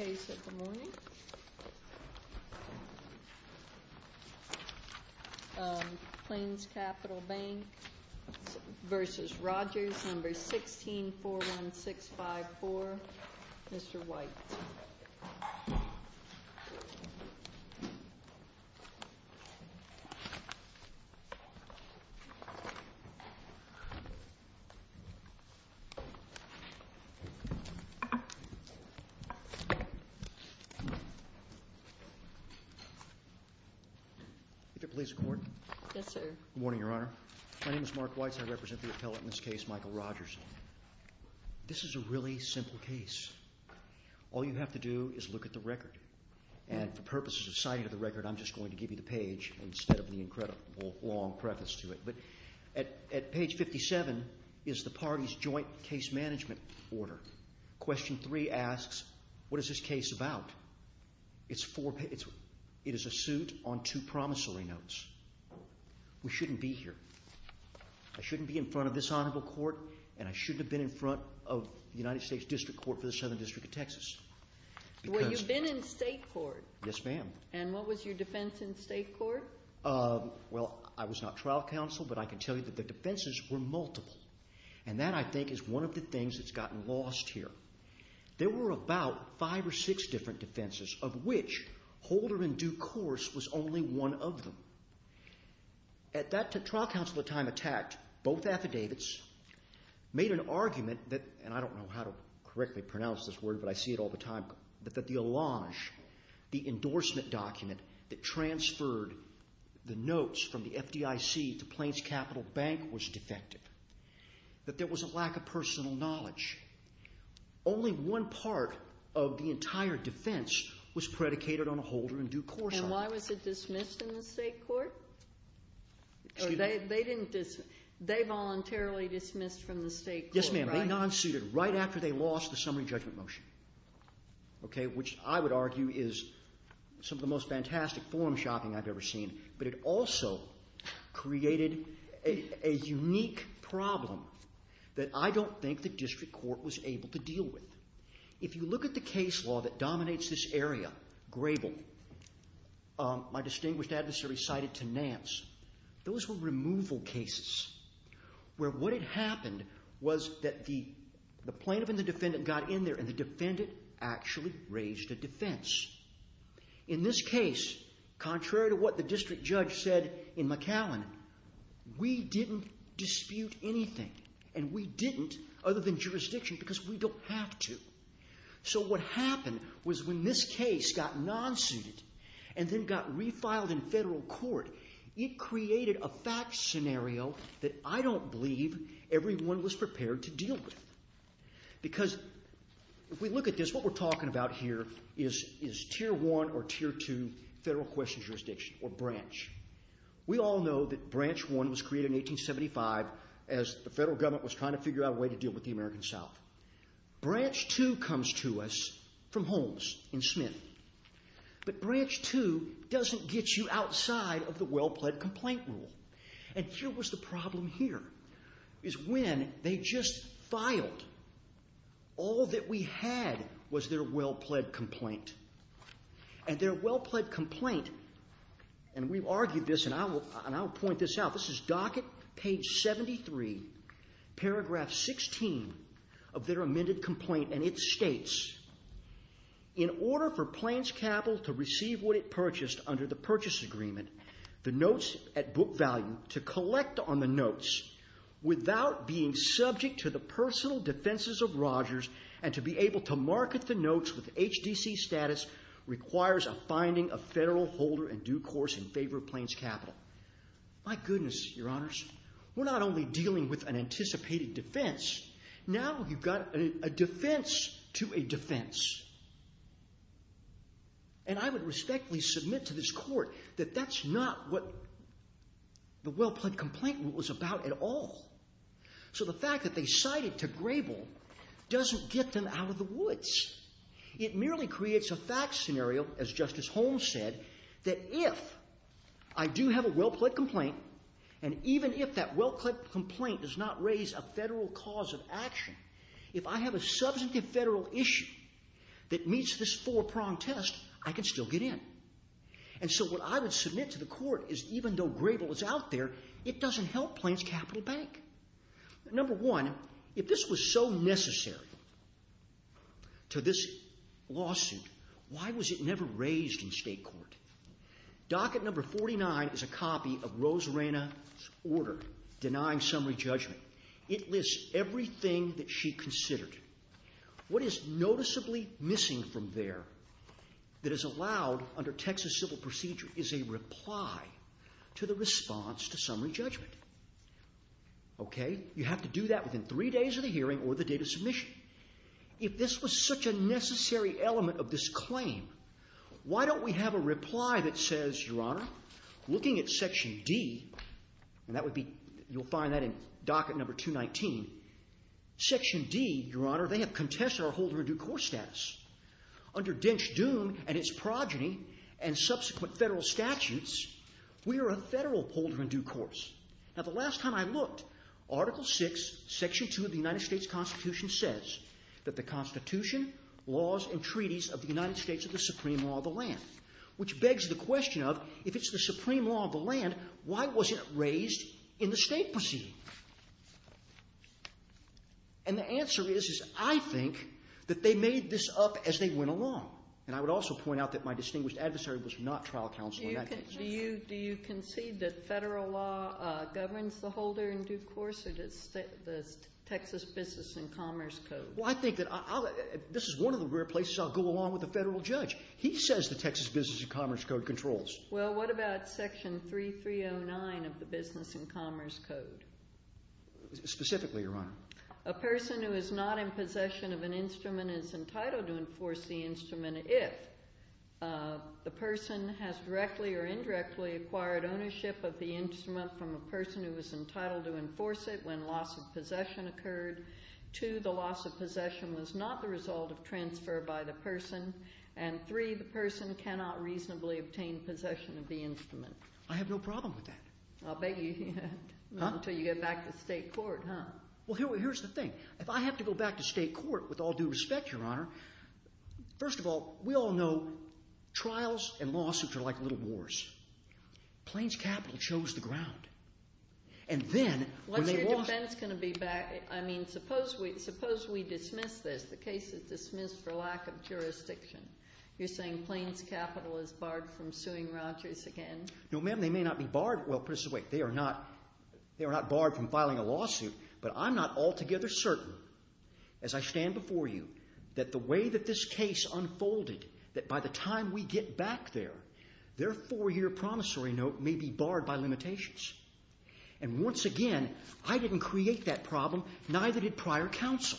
Case at the morning, Plains Capital Bank v. Rogers, number 1641654, Mr. White. If it please the Court. Yes, sir. Good morning, Your Honor. My name is Mark White. I represent the appellate in this case, Michael Rogers. This is a really simple case. All you have to do is look at the record. And for purposes of citing of the record, I'm just going to give you the page instead of the incredible long preface to it. But at page 57 is the case about. It is a suit on two promissory notes. We shouldn't be here. I shouldn't be in front of this honorable court, and I shouldn't have been in front of the United States District Court for the Southern District of Texas. Well, you've been in state court. Yes, ma'am. And what was your defense in state court? Well, I was not trial counsel, but I can tell you that the defenses were multiple. And that, I think, is one of the things that's gotten lost here. There were about five or six different defenses, of which Holder in due course was only one of them. At that time, trial counsel attacked both affidavits, made an argument that, and I don't know how to correctly pronounce this word, but I see it all the time, that the allonge, the endorsement document that transferred the notes from the FDIC to Plains had a lack of personal knowledge. Only one part of the entire defense was predicated on a Holder in due course. And why was it dismissed in the state court? They voluntarily dismissed from the state court, right? Yes, ma'am. They non-suited right after they lost the summary judgment motion, which I would argue is some of the most fantastic forum that I don't think the district court was able to deal with. If you look at the case law that dominates this area, Grable, my distinguished adversary cited to Nance, those were removal cases where what had happened was that the plaintiff and the defendant got in there and the defendant actually raised a defense. In this case, contrary to what the district judge said in McAllen, we didn't dispute anything. And we didn't, other than jurisdiction, because we don't have to. So what happened was when this case got non-suited and then got refiled in federal court, it created a fact scenario that I don't believe everyone was prepared to deal with. Because if we look at this, what we're talking about here is Tier 1 or We all know that Branch 1 was created in 1875 as the federal government was trying to figure out a way to deal with the American South. Branch 2 comes to us from Holmes in Smith. But Branch 2 doesn't get you outside of the well-pled complaint rule. And here was the problem here, is when they just filed, all that we had was their well-pled complaint. And their well-pled complaint, and we've argued this and I'll point this out, this is docket page 73, paragraph 16 of their amended complaint, and it states, in order for Plains Capital to receive what it purchased under the purchase agreement, the notes at book value, to collect on the notes without being subject to the personal defenses of Rogers and to be able to market the notes with HDC status requires a finding of federal holder and due course in favor of Plains Capital. My goodness, your honors, we're not only dealing with an anticipated defense, now you've got a defense to a defense. And I would respectfully submit to this court that that's not what the well-pled complaint was about at all. So the fact that they cited to Grable doesn't get them out of the woods. It merely creates a fact scenario, as Justice Holmes said, that if I do have a well-pled complaint, and even if that well-pled complaint does not raise a federal cause of action, if I have a substantive federal issue that meets this four-prong test, I can still get in. And so what I would submit to the court is even though Grable is out there, it doesn't help Plains Capital Bank. Number one, if they this was so necessary to this lawsuit, why was it never raised in state court? Docket number 49 is a copy of Rose Reyna's order denying summary judgment. It lists everything that she considered. What is noticeably missing from there that is allowed under Texas civil procedure is a reply to the response to summary judgment. Okay? You have to do that within three days of the hearing or the date of submission. If this was such a necessary element of this claim, why don't we have a reply that says, Your Honor, looking at section D, and that would be, you'll find that in docket number 219, section D, Your Honor, they have contested our holder-in-due-course status. Under Dench Dune and its progeny and subsequent federal statutes, we are a federal holder-in-due-course. Now the last time I read this, section 2 of the United States Constitution says that the Constitution, laws, and treaties of the United States are the supreme law of the land, which begs the question of, if it's the supreme law of the land, why wasn't it raised in the state proceeding? And the answer is, is I think that they made this up as they went along. And I would also point out that my distinguished adversary was not trial counsel in that case. Do you concede that federal law governs the holder-in-due-course or does Texas Business and Commerce Code? Well, I think that I'll, this is one of the rare places I'll go along with a federal judge. He says the Texas Business and Commerce Code controls. Well, what about section 3309 of the Business and Commerce Code? Specifically, Your Honor. A person who is not in possession of an instrument is entitled to enforce the instrument if the person has directly or indirectly acquired ownership of the instrument from a person who was entitled to enforce it when loss of possession occurred. Two, the loss of possession was not the result of transfer by the person. And three, the person cannot reasonably obtain possession of the instrument. I have no problem with that. I'll beg you, until you get back to state court, huh? Well, here's the thing. If I have to go back to state court, with all due respect, Your Honor, lawsuits and lawsuits are like little wars. Plains Capital chose the ground. And then when they lost... When's your defense going to be back? I mean, suppose we dismiss this, the case is dismissed for lack of jurisdiction. You're saying Plains Capital is barred from suing Rogers again? No, ma'am, they may not be barred. Well, put it this way, they are not barred from filing a lawsuit, but I'm not altogether certain, as I stand before you, that the way that this case unfolded, that by the time we get back there, their four-year promissory note may be barred by limitations. And once again, I didn't create that problem, neither did prior counsel.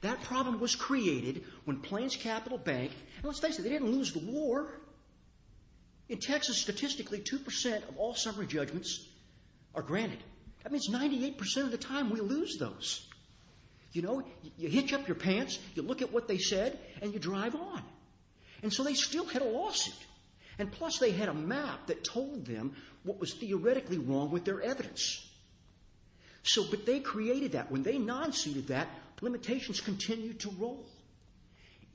That problem was created when Plains Capital Bank... And let's face it, they didn't lose the war. In Texas, statistically, 2% of all summary judgments are granted. That means 98% of the time we lose those. You hitch up your pants, you look at what they said, and you drive on. And so they still had a lawsuit. And plus they had a map that told them what was theoretically wrong with their evidence. So, but they created that. When they non-suited that, limitations continued to roll.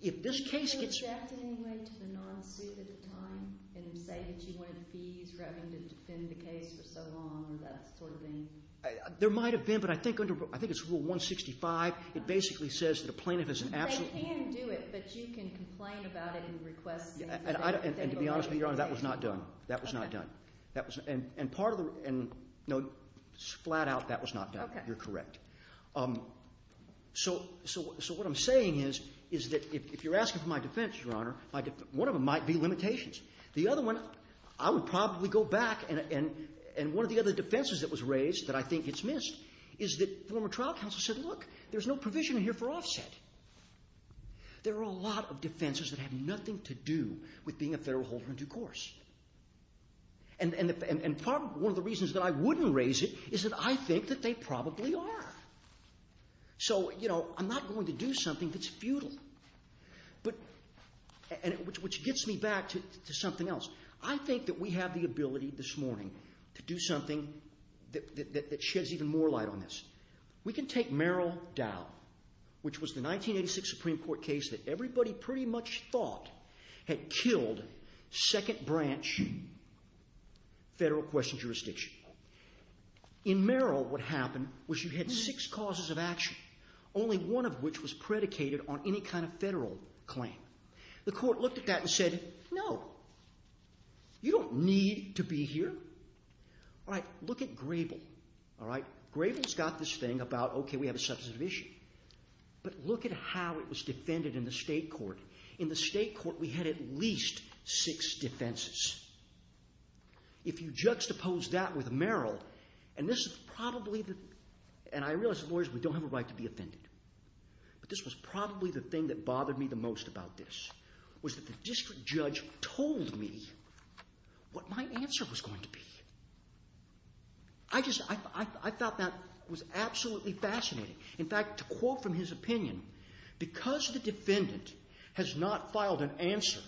If this case gets... Did they object in any way to the non-suit at the time, and say that you wanted fees for having to defend the case for so long, or that sort of thing? There might have been, but I think under, I think it's Rule 165, it basically says that a plaintiff is an absolute... They can do it, but you can complain about it and request... And to be honest with you, Your Honor, that was not done. That was not done. And part of the, and, you know, flat out, that was not done. You're correct. So what I'm saying is, is that if you're asking for my defense, Your Honor, one of them might be limitations. The other one, I would probably go back, and one of the other defenses that was raised that I think gets missed, is that former trial counsel said, look, there's no provision here for offset. There are a lot of defenses that have nothing to do with being a federal holder in due course. And part of, one of the reasons that I wouldn't raise it, is that I think that they probably are. So, you know, I'm not going to do something that's futile. But, and which gets me back to something else. I think that we have the ability this morning to do something that sheds even more light on this. We can take Merrill Dow, which was the 1986 Supreme Court case that everybody pretty much thought had killed second branch federal question jurisdiction. In Merrill, what happened was you had six causes of action, only one of which was predicated on any kind of federal claim. The court looked at that and said, no, you don't need to be here. All right, look at Grable. All right, Grable's got this thing about, okay, we have a substantive issue. But look at how it was defended in the state court. In the state court, we had at least six defenses. If you juxtapose that with Merrill, and this is probably the, and I realize lawyers, we don't have a right to be offended. But this was probably the thing that bothered me the most about this, was that the district judge told me what my answer was going to be. I just, I thought that was absolutely fascinating. In fact, to quote from his opinion, because the defendant has not filed an answer,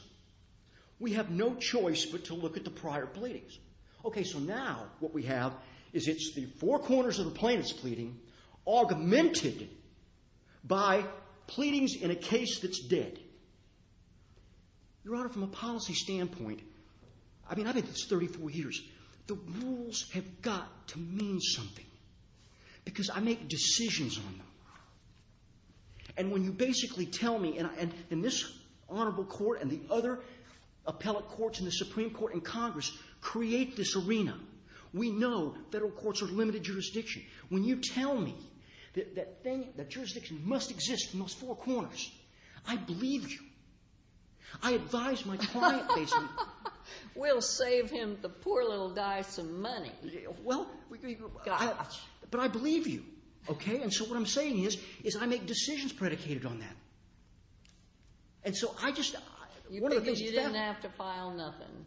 we have no choice but to look at the prior pleadings. Okay, so now what we have is it's the four corners of the plaintiff's pleading augmented by pleadings in a case that's dead. Your Honor, from a policy standpoint, I mean, I think it's thirty-four years. The rules have got to mean something, because I make decisions on them. And when you basically tell me, and this honorable court and the other appellate courts in the Supreme Court and Congress create this arena, we know federal courts are limited jurisdiction. When you tell me that jurisdiction must exist in those four corners, I believe you. I advise my client basically. We'll save him the poor little guy some money. Well, but I believe you, okay? And so what I'm saying is, is I make decisions predicated on that. And so I just, one of the things that... You didn't have to file nothing.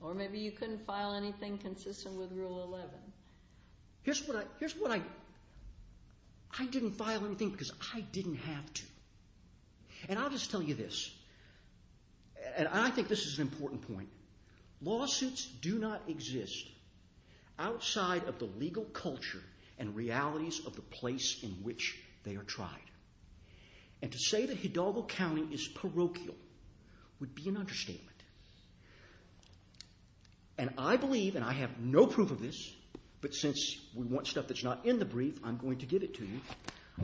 Or maybe you couldn't file anything consistent with Rule 11. Here's what I... I didn't file anything because I didn't have to. And I'll just tell you this, and I think this is an important point. Lawsuits do not exist outside of the legal culture and realities of the place in which they are tried. And to say that Hidalgo County is parochial would be an understatement. And I believe and I have no proof of this, but since we want stuff that's not in the brief, I'm going to give it to you.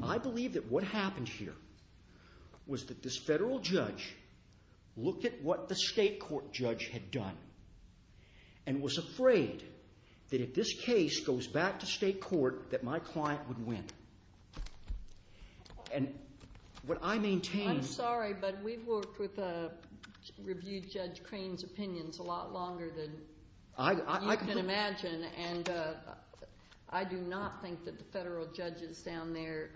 I believe that what happened here was that this federal judge looked at what the state court judge had done and was afraid that if this case goes back to state court, that my client would win. And what I maintain... I'm sorry, but we've worked with Review Judge Crane's opinions a lot longer than you can imagine, and I do not think that the federal judges down there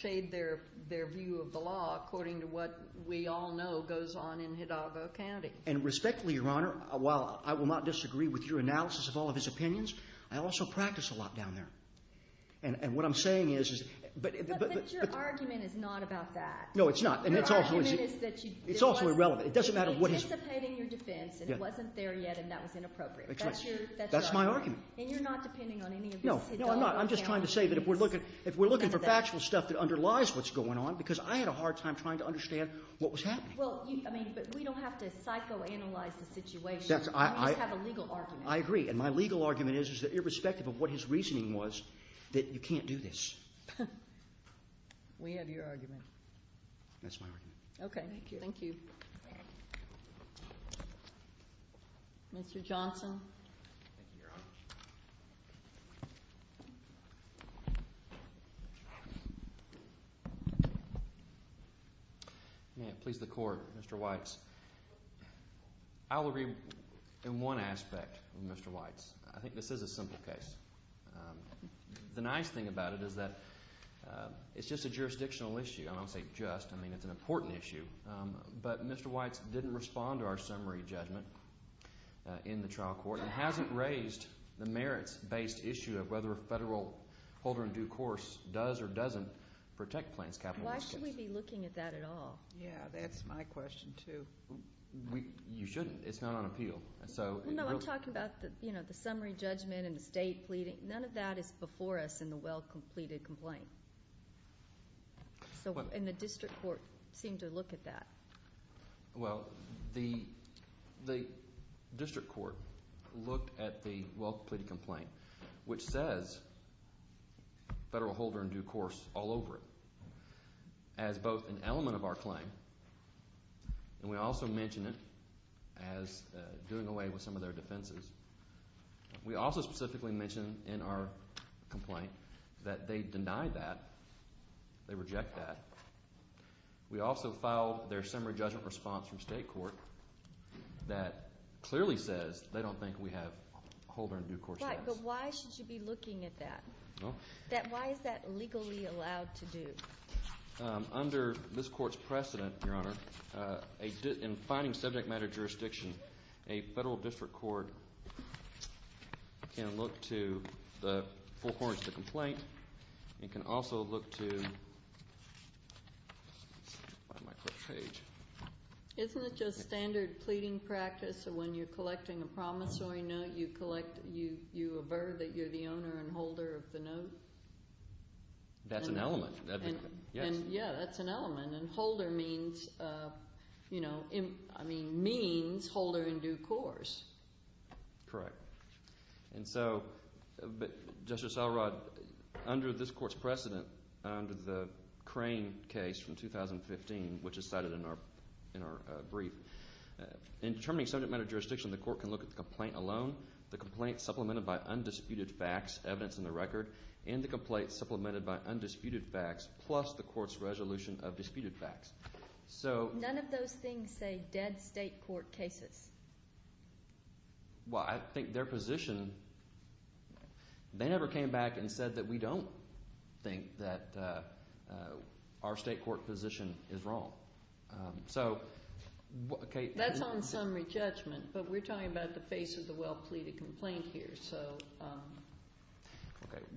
shade their view of the law according to what we all know goes on in Hidalgo County. And respectfully, Your Honor, while I will not disagree with your analysis of all of his opinions, I also practice a lot down there. And what I'm saying is... But your argument is not about that. No, it's not. It's also irrelevant. It doesn't matter what... He was anticipating your defense and it wasn't there yet and that was inappropriate. That's my argument. And you're not depending on any of this Hidalgo County... No, I'm not. I'm just trying to say that if we're looking for factual stuff that underlies what's going on, because I had a hard time trying to understand what was happening. Well, I mean, but we don't have to psychoanalyze the situation. We just have a legal argument. I agree. And my legal reasoning was that you can't do this. We have your argument. That's my argument. Okay. Thank you. Thank you. Mr. Johnson. Thank you, Your Honor. May it please the Court, Mr. Weitz. I'll agree in one aspect, Mr. Weitz. I think this is a simple case. The nice thing about it is that it's just a jurisdictional issue. And I don't say just. I mean, it's an important issue. But Mr. Weitz didn't respond to our summary judgment in the trial court and hasn't raised the merits-based issue of whether a federal holder in due course does or doesn't Why should we be looking at that at all? Yeah, that's my question, too. You shouldn't. It's not on appeal. Well, no, I'm talking about the summary judgment and the state pleading. None of that is before us in the well-completed complaint. And the district court seemed to look at that. Well, the district court looked at the well-completed complaint, which says federal holder in due course all over it as both an element of our claim, and we also mention it as doing away with some of their defenses. We also specifically mention in our complaint that they denied that. They reject that. We also filed their summary judgment response from state court that clearly says they don't think we have holder in due course Right, but why should you be looking at that? Why is that legally allowed to do? Under this court's precedent, Your Honor, in finding subject matter jurisdiction, a federal district court can look to the forecourts of the complaint. It can also look to, isn't it just standard pleading practice? When you're collecting a promissory note, you avert that you're the owner and holder of the note? That's an element, yes. Yeah, that's an element. And holder means holder in due course. Correct. And so, Justice Elrod, under this court's precedent, under the Crane case from 2015, which is cited in our brief, in determining subject matter jurisdiction, the court can look at the complaint alone, the complaint supplemented by undisputed facts, evidence in the record, and the complaint supplemented by undisputed facts plus the court's resolution of disputed facts. So, none of those things say dead state court cases. Well, I think their position, they never came back and said that we don't think that our state court position is wrong. That's on summary judgment, but we're talking about the face of the well-pleaded complaint here.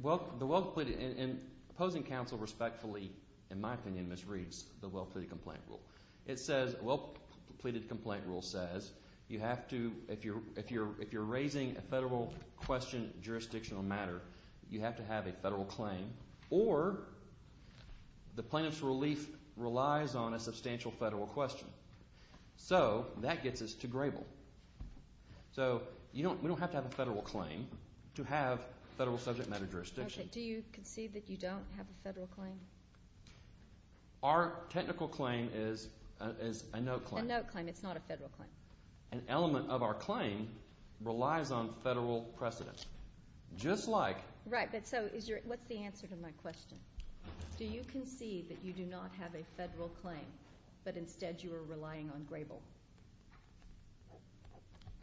Well, the well-pleaded, and opposing counsel respectfully, in my opinion, misreads the well-pleaded complaint rule. It says, well-pleaded complaint rule says, you have to, if you're raising a federal question, jurisdictional matter, you have to have a federal claim, or the plaintiff's relief relies on a substantial federal question. So, that gets us to Grable. So, we don't have to have a federal claim to have federal subject matter jurisdiction. Do you concede that you don't have a federal claim? Our technical claim is a note claim. A note claim, it's not a federal claim. An element of our claim relies on federal precedent, just like. Right, but so, what's the answer to my question? Do you concede that you do not have a federal claim, but instead you are relying on Grable?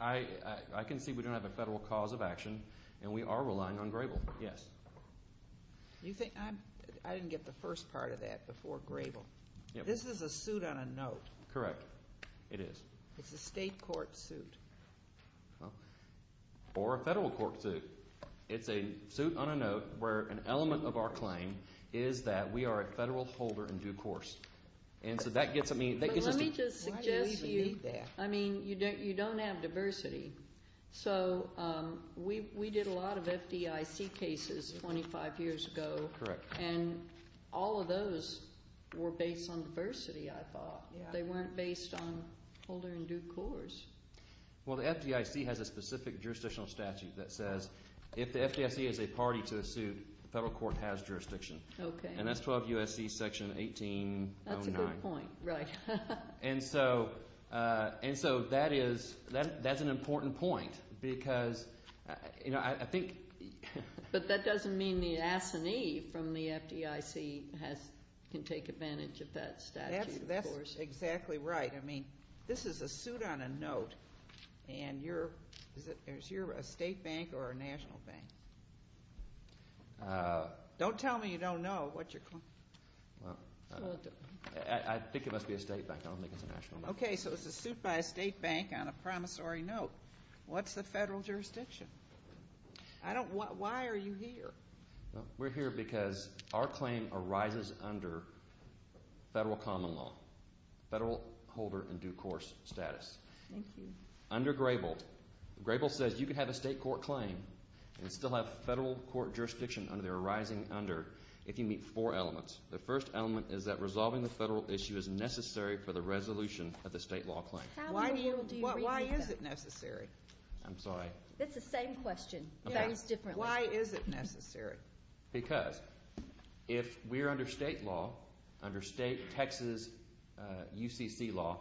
I concede we don't have a federal cause of action, and we are going to get the first part of that before Grable. This is a suit on a note. Correct, it is. It's a state court suit. Or a federal court suit. It's a suit on a note, where an element of our claim is that we are a federal holder in due course. And so, that gets me. Let me just suggest to you, I mean, you don't have diversity. So, we did a lot of FDIC cases 25 years ago. Correct. And all of those were based on diversity, I thought. They weren't based on holder in due course. Well, the FDIC has a specific jurisdictional statute that says if the FDIC is a party to a suit, the federal court has jurisdiction. Okay. And that's 12 U.S.C. section 1809. That's a good point, right. And so, that is, that's an important point, because, you know, I think. But that doesn't mean the assignee from the FDIC can take advantage of that statute, of course. That's exactly right. I mean, this is a suit on a note, and you're, is your a state bank or a national bank? Don't tell me you don't know what you're claiming. Well, I think it must be a state bank. I don't think it's a promissory note. What's the federal jurisdiction? I don't, why are you here? We're here because our claim arises under federal common law, federal holder in due course status. Thank you. Under Grable, Grable says you can have a state court claim and still have federal court jurisdiction under their arising under if you meet four elements. The first element is that resolving the federal issue is necessary for the resolution of the state law claim. Why do you, why is it necessary? I'm sorry. It's the same question, varies differently. Why is it necessary? Because if we're under state law, under state Texas UCC law,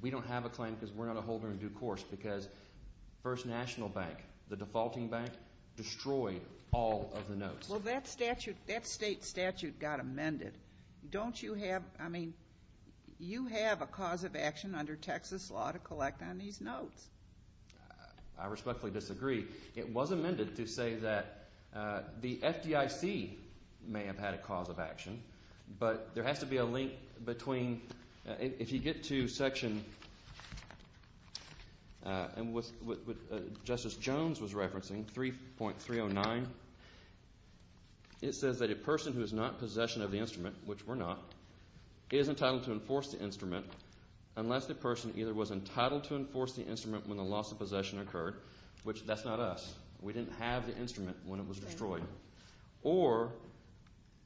we don't have a claim because we're not a holder in due course, because First National Bank, the defaulting bank, destroyed all of the notes. Well, that statute, that state statute got Texas law to collect on these notes. I respectfully disagree. It was amended to say that the FDIC may have had a cause of action, but there has to be a link between, if you get to section, and what Justice Jones was referencing, 3.309, it says that a person who is not in possession of the instrument, which we're not, is entitled to enforce the instrument unless the person either was entitled to enforce the instrument when the loss of possession occurred, which that's not us, we didn't have the instrument when it was destroyed, or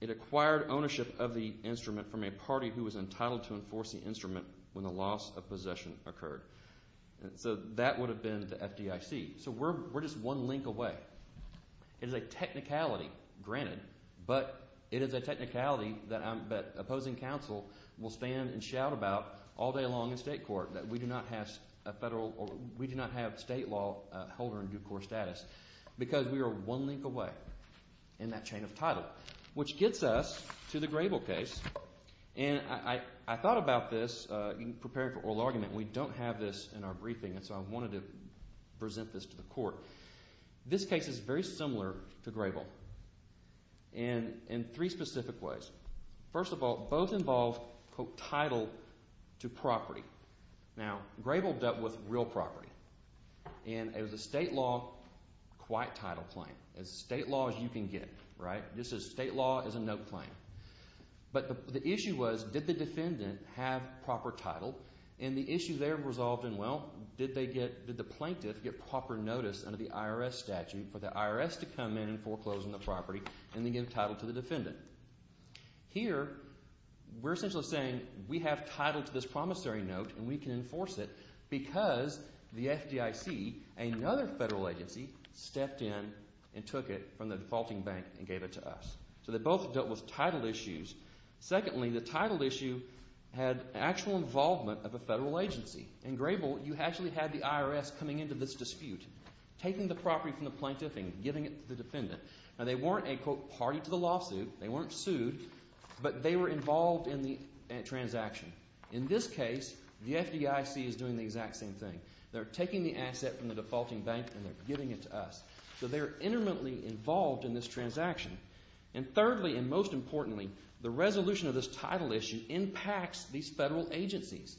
it acquired ownership of the instrument from a party who was entitled to enforce the instrument when the loss of possession occurred. So that would have been the FDIC. So we're just one link away. It is a technicality that opposing counsel will stand and shout about all day long in state court that we do not have state law holder in due course status, because we are one link away in that chain of title, which gets us to the Grable case. And I thought about this in preparing for oral argument. We don't have this in our briefing, and so I wanted to present this to the court. This case is very similar to Grable in three specific ways. First of all, both involve, quote, title to property. Now, Grable dealt with real property. And it was a state law, quiet title claim. It's state law as you can get, right? This is state law as a note claim. But the issue was, did the defendant have proper title? And the issue there resolved in, well, did the plaintiff get proper notice under the IRS statute for the IRS to come in and foreclose on the property and then give title to the defendant? Here, we're essentially saying we have title to this promissory note and we can enforce it because the FDIC, another federal agency, stepped in and took it from the defaulting bank and gave it to us. So they both dealt with title issues. Secondly, the title issue had actual involvement of a federal agency. In Grable, you actually had the IRS coming into this dispute, taking the property from the plaintiff and giving it to the defendant. Now, they weren't a, quote, party to the lawsuit. They weren't sued. But they were involved in the transaction. In this case, the FDIC is doing the exact same thing. They're taking the asset from the defaulting bank and they're giving it to us. So they're intimately involved in this transaction. And thirdly and most importantly, the resolution of this title issue impacts these federal agencies.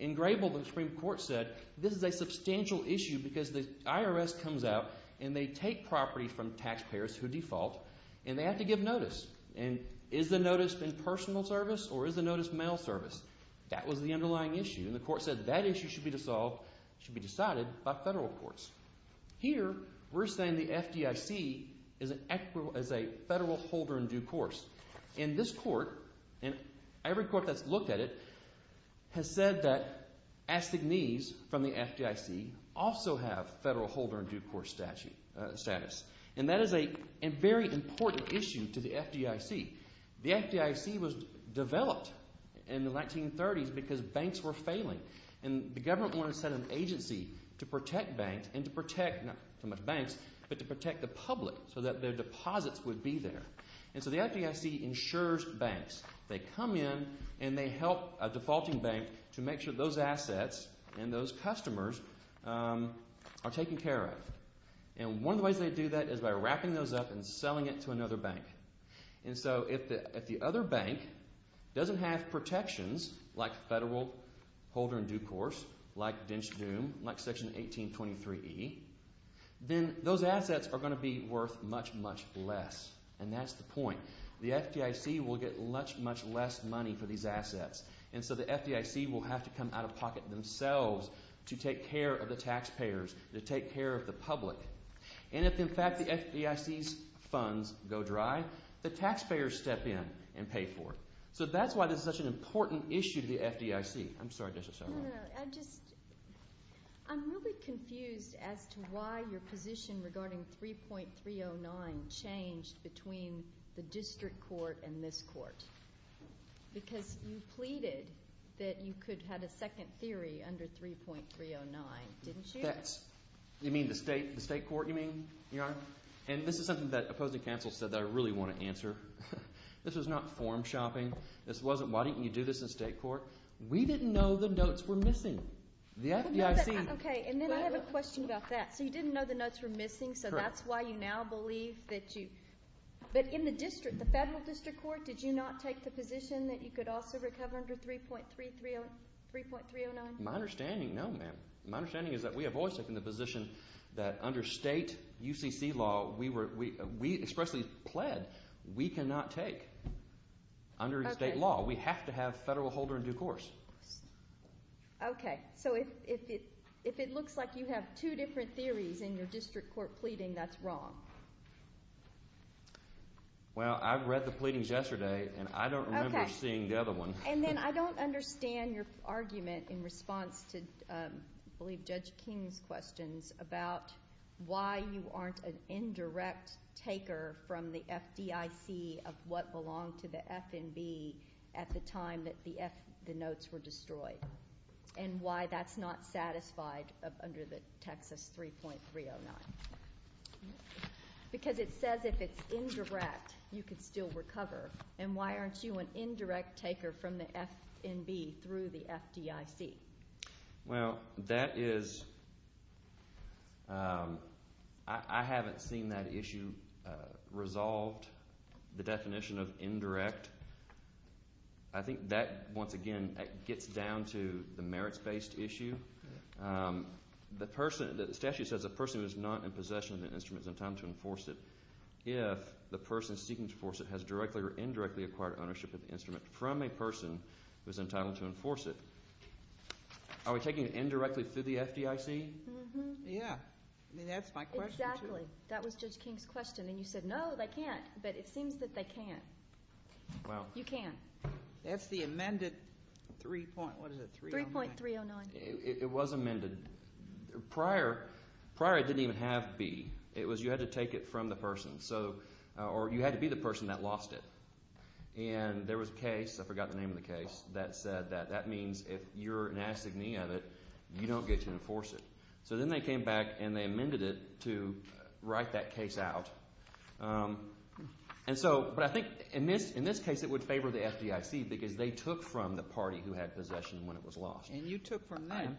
In Grable, the Supreme Court said this is a substantial issue because the IRS comes out and they take property from taxpayers who default and they have to give notice. And is the notice in personal service or is the notice mail service? That was the underlying issue. And the court said that issue should be dissolved, should be decided by federal courts. Here, we're saying the FDIC is a federal holder in due course. And this court, and every court that's looked at it, has said that astignees from the FDIC also have federal holder in due course status. And that is a very important issue to the FDIC. The FDIC was developed in the 1930s because banks were failing. And the government wanted to set an agency to protect banks and to protect, not so much banks, but to protect the public so that their deposits would be there. And so the FDIC insures banks. They come in and they help a defaulting bank to make sure those assets and those customers are taken care of. And one of the ways they do that is by wrapping those up and selling it to another bank. And so if the other bank doesn't have protections like federal holder in due course, like Dinch Doom, like Section 1823E, then those assets are going to be worth much, much less. And that's the point. The FDIC will get much, much less money for these assets. And so the FDIC will have to come out of pocket themselves to take care of the taxpayers, to take care of the public. And if in fact the FDIC's funds go dry, the taxpayers step in and pay for it. So that's why this is such an important issue to the FDIC. I'm sorry. I just, I'm really confused as to why your position regarding 3.309 changed between the district court and this court. Because you pleaded that you could have a second theory under 3.309, didn't you? That's, you mean the state court, you mean, Your Honor? And this is something that opposing counsel said that I really want to answer. This was not form shopping. This wasn't, why didn't you do this in state court? We didn't know the notes were missing. The FDIC. Okay, and then I have a question about that. So you didn't know the notes were missing, so that's why you now believe that you, but in the district, the federal district court, did you not take the position that you could also recover under 3.309? My understanding, no ma'am. My understanding is that we have always taken the position that under state UCC law, we were, we expressly pled we cannot take under state law. We have to have federal holder in due course. Okay, so if it looks like you have two different theories in your district court pleading, that's wrong. Well, I read the pleadings yesterday and I don't remember seeing the other one. And then I don't understand your argument in response to, I believe, Judge King's questions about why you aren't an indirect taker from the FDIC of what belonged to the FNB at the time that the F, the notes were destroyed and why that's not satisfied under the Texas 3.309. Because it says if it's indirect, you could still recover. And why aren't you an indirect taker from the FNB through the FDIC? Well, that is, I haven't seen that issue resolved, the definition of indirect. I think that, once again, it gets down to the merits based issue. The person, the statute says a person who is not in possession of the instrument is entitled to enforce it. If the person seeking to enforce it has directly or indirectly acquired ownership of the instrument from a person who is entitled to enforce it. Are we taking it indirectly through the FDIC? Yeah. I mean, that's my question too. Exactly. That was Judge King's question. And you said, no, they can't. But it seems that they can. Wow. You can. That's the amended 3. what is it? 3.309. It was amended. Prior, it didn't even have B. It was you had to take it from the person. Or you had to be the person that lost it. And there was a case, I forgot the name of the case, that said that that means if you're an assignee of it, you don't get to enforce it. So then they came back and they amended it to write that case out. And so, but I think in this case it would favor the FDIC because they took from the party who had possession when it was lost. And you took from them.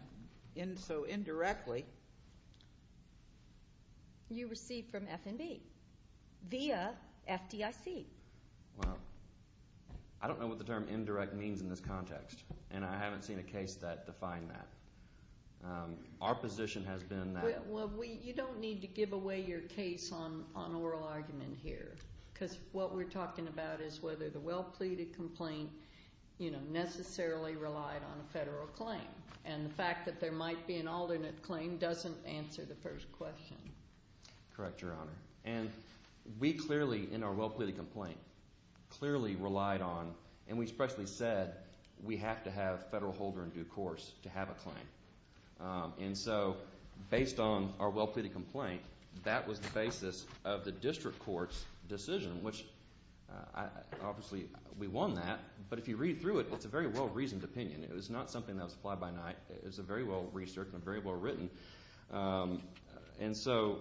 And so indirectly. You received from FNB via FDIC. Wow. I don't know what the term indirect means in this context. And I haven't seen a case that defined that. Our position has been that. Well, we, you don't need to give away your case on oral argument here. Because what we're talking about is whether the well pleaded complaint is based on a federal claim. And the fact that there might be an alternate claim doesn't answer the first question. Correct, Your Honor. And we clearly, in our well pleaded complaint, clearly relied on, and we especially said, we have to have federal holder in due course to have a claim. And so, based on our well pleaded complaint, that was the basis of the district court's decision, which obviously we won that. But if you read through it, it's a very well reasoned opinion. It was not something that was applied by night. It was very well researched and very well written. And so,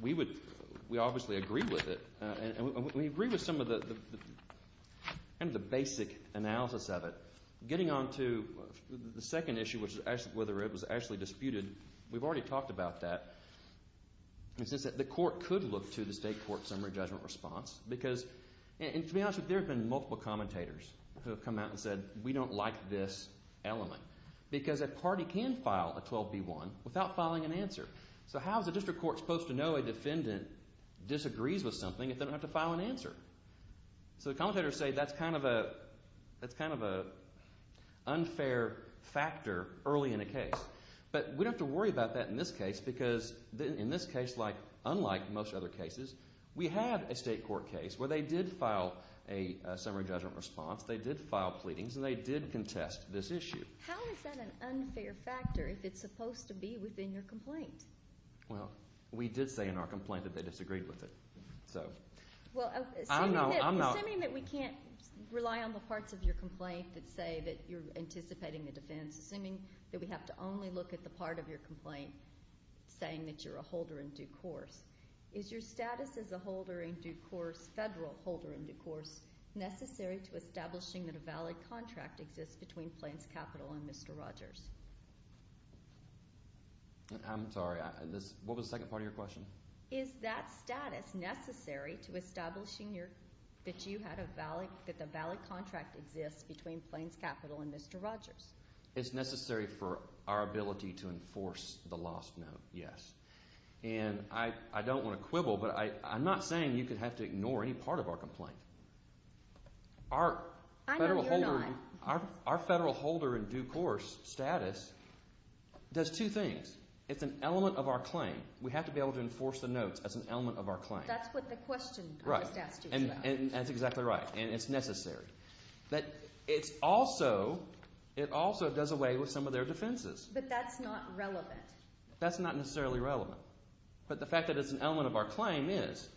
we obviously agree with it. And we agree with some of the basic analysis of it. Getting on to the second issue, which is whether it was actually disputed. We've already talked about that. The court could look to the state court summary judgment response. Because, to be honest with you, there have been multiple commentators who have come out and said, we don't like this element. Because a party can file a 12B1 without filing an answer. So how is a district court supposed to know a defendant disagrees with something if they don't have to file an answer? So commentators say, that's kind of an unfair factor early in a case. But we don't have to worry about that in this case. Because in this case, unlike most other cases, we have a state court case where they did file a summary judgment response. They did file pleadings. And they did contest this issue. How is that an unfair factor if it's supposed to be within your complaint? Well, we did say in our complaint that they disagreed with it. So, I don't know. Assuming that we can't rely on the parts of your complaint that say that you're anticipating the defense. Assuming that we have to only look at the part of your complaint saying that you're a holder in due course. Is your status as a holder in due course, federal holder in due course, necessary to establishing that a valid contract exists between Plains Capital and Mr. Rogers? I'm sorry. What was the second part of your question? Is that status necessary to establishing that the valid contract exists between Plains Capital and Mr. Rogers? It's necessary. And I don't want to quibble, but I'm not saying you could have to ignore any part of our complaint. Our federal holder in due course status does two things. It's an element of our claim. We have to be able to enforce the notes as an element of our claim. That's what the question I just asked you about. Right. And that's exactly right. And it's necessary. But it's also, it also does away with some of their defenses. But that's not relevant. That's not necessarily relevant. But the fact that it's an element of our claim is.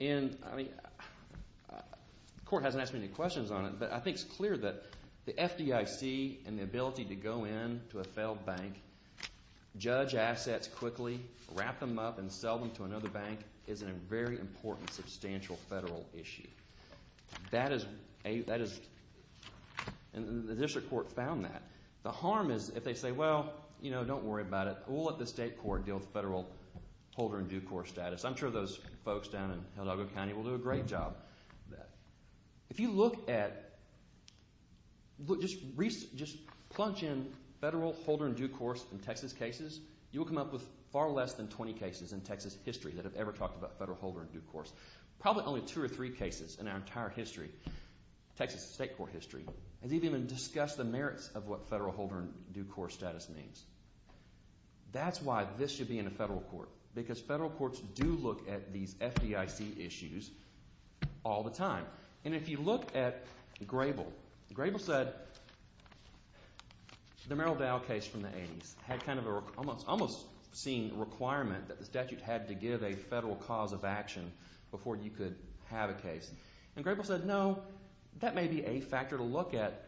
And, I mean, the court hasn't asked me any questions on it, but I think it's clear that the FDIC and the ability to go in to a federal bank, judge assets quickly, wrap them up and sell them to another bank is a very important substantial federal issue. That is a, that is, and the district court found that. The harm is if they say, well, you know, don't worry about it. We'll let the state court deal with federal holder in due course status. I'm sure those folks down in Hidalgo County will do a great job of that. If you look at, just plunge in federal holder in due course in Texas cases, you'll come up with far less than 20 cases in Texas history that have ever talked about federal holder in due course. Probably only two or three cases in our entire history, Texas state court history, has even discussed the merits of what federal holder in due course status means. That's why this should be in a federal court. Because federal courts do look at these FDIC issues all the time. And if you look at Grable, Grable said the Merrill Dow case from the 80s had kind of a, almost, almost seen a requirement that the statute had to give a federal cause of action before you could have a case. And Grable said, no, that may be a factor to look at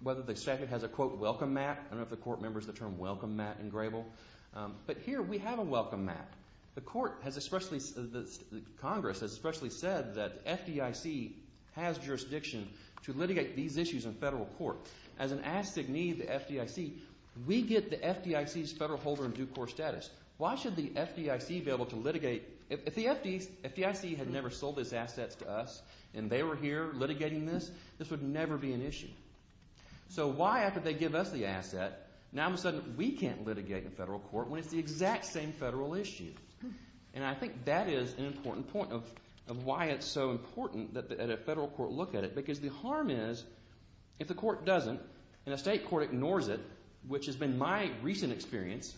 whether the statute has a, quote, welcome mat. I don't know if the court remembers the term welcome mat in Grable. But here we have a welcome mat. The court has especially, Congress has especially said that FDIC has jurisdiction to litigate these issues in federal court. As an assignee of the FDIC, we get the FDIC's federal holder in due course status. Why should the FDIC be able to litigate, if the FDIC had never sold these assets to us and they were here litigating this, this would never be an issue. So why after they give us the asset, now all of a sudden we can't litigate in federal court when it's the exact same federal issue. And I think that is an important point of why it's so important that a federal court look at it. Because the harm is, if the court doesn't, and a state court ignores it, which has been my recent experience,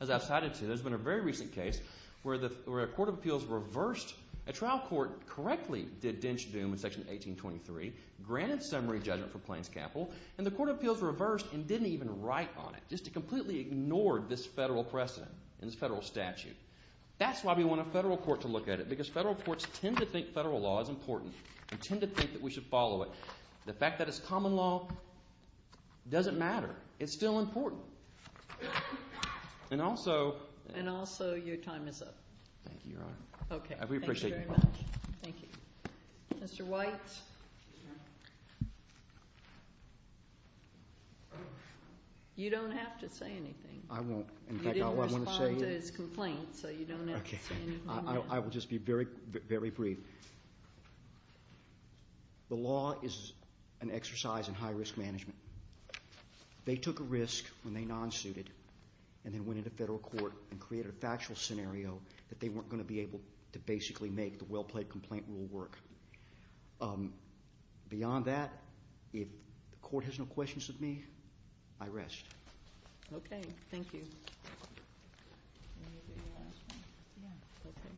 as I've cited to, there's been a very recent case where a court of appeals reversed, a trial court correctly did denche doom in section 1823, granted summary judgment for Plains Capital, and the court of appeals reversed and didn't even write on it, just completely ignored this federal precedent and this federal statute. That's why we want a federal court to look at it, because federal courts tend to think federal law is important and tend to think that we should follow it. The fact that it's common law doesn't matter. It's still important. And also. And also your time is up. Thank you, Your Honor. Okay. We appreciate it. Thank you very much. Thank you. Mr. White. You don't have to say anything. I won't. In fact, all I want to say is. You didn't respond to his complaint, so you don't have to say anything now. Okay. I will just be very, very brief. The law is an exercise in high-risk management. They took a risk when they non-suited and then went into federal court and created a factual scenario that they weren't going to be able to basically make the well-played complaint rule work. Beyond that, if the court has no questions of me, I rest. Okay. Thank you.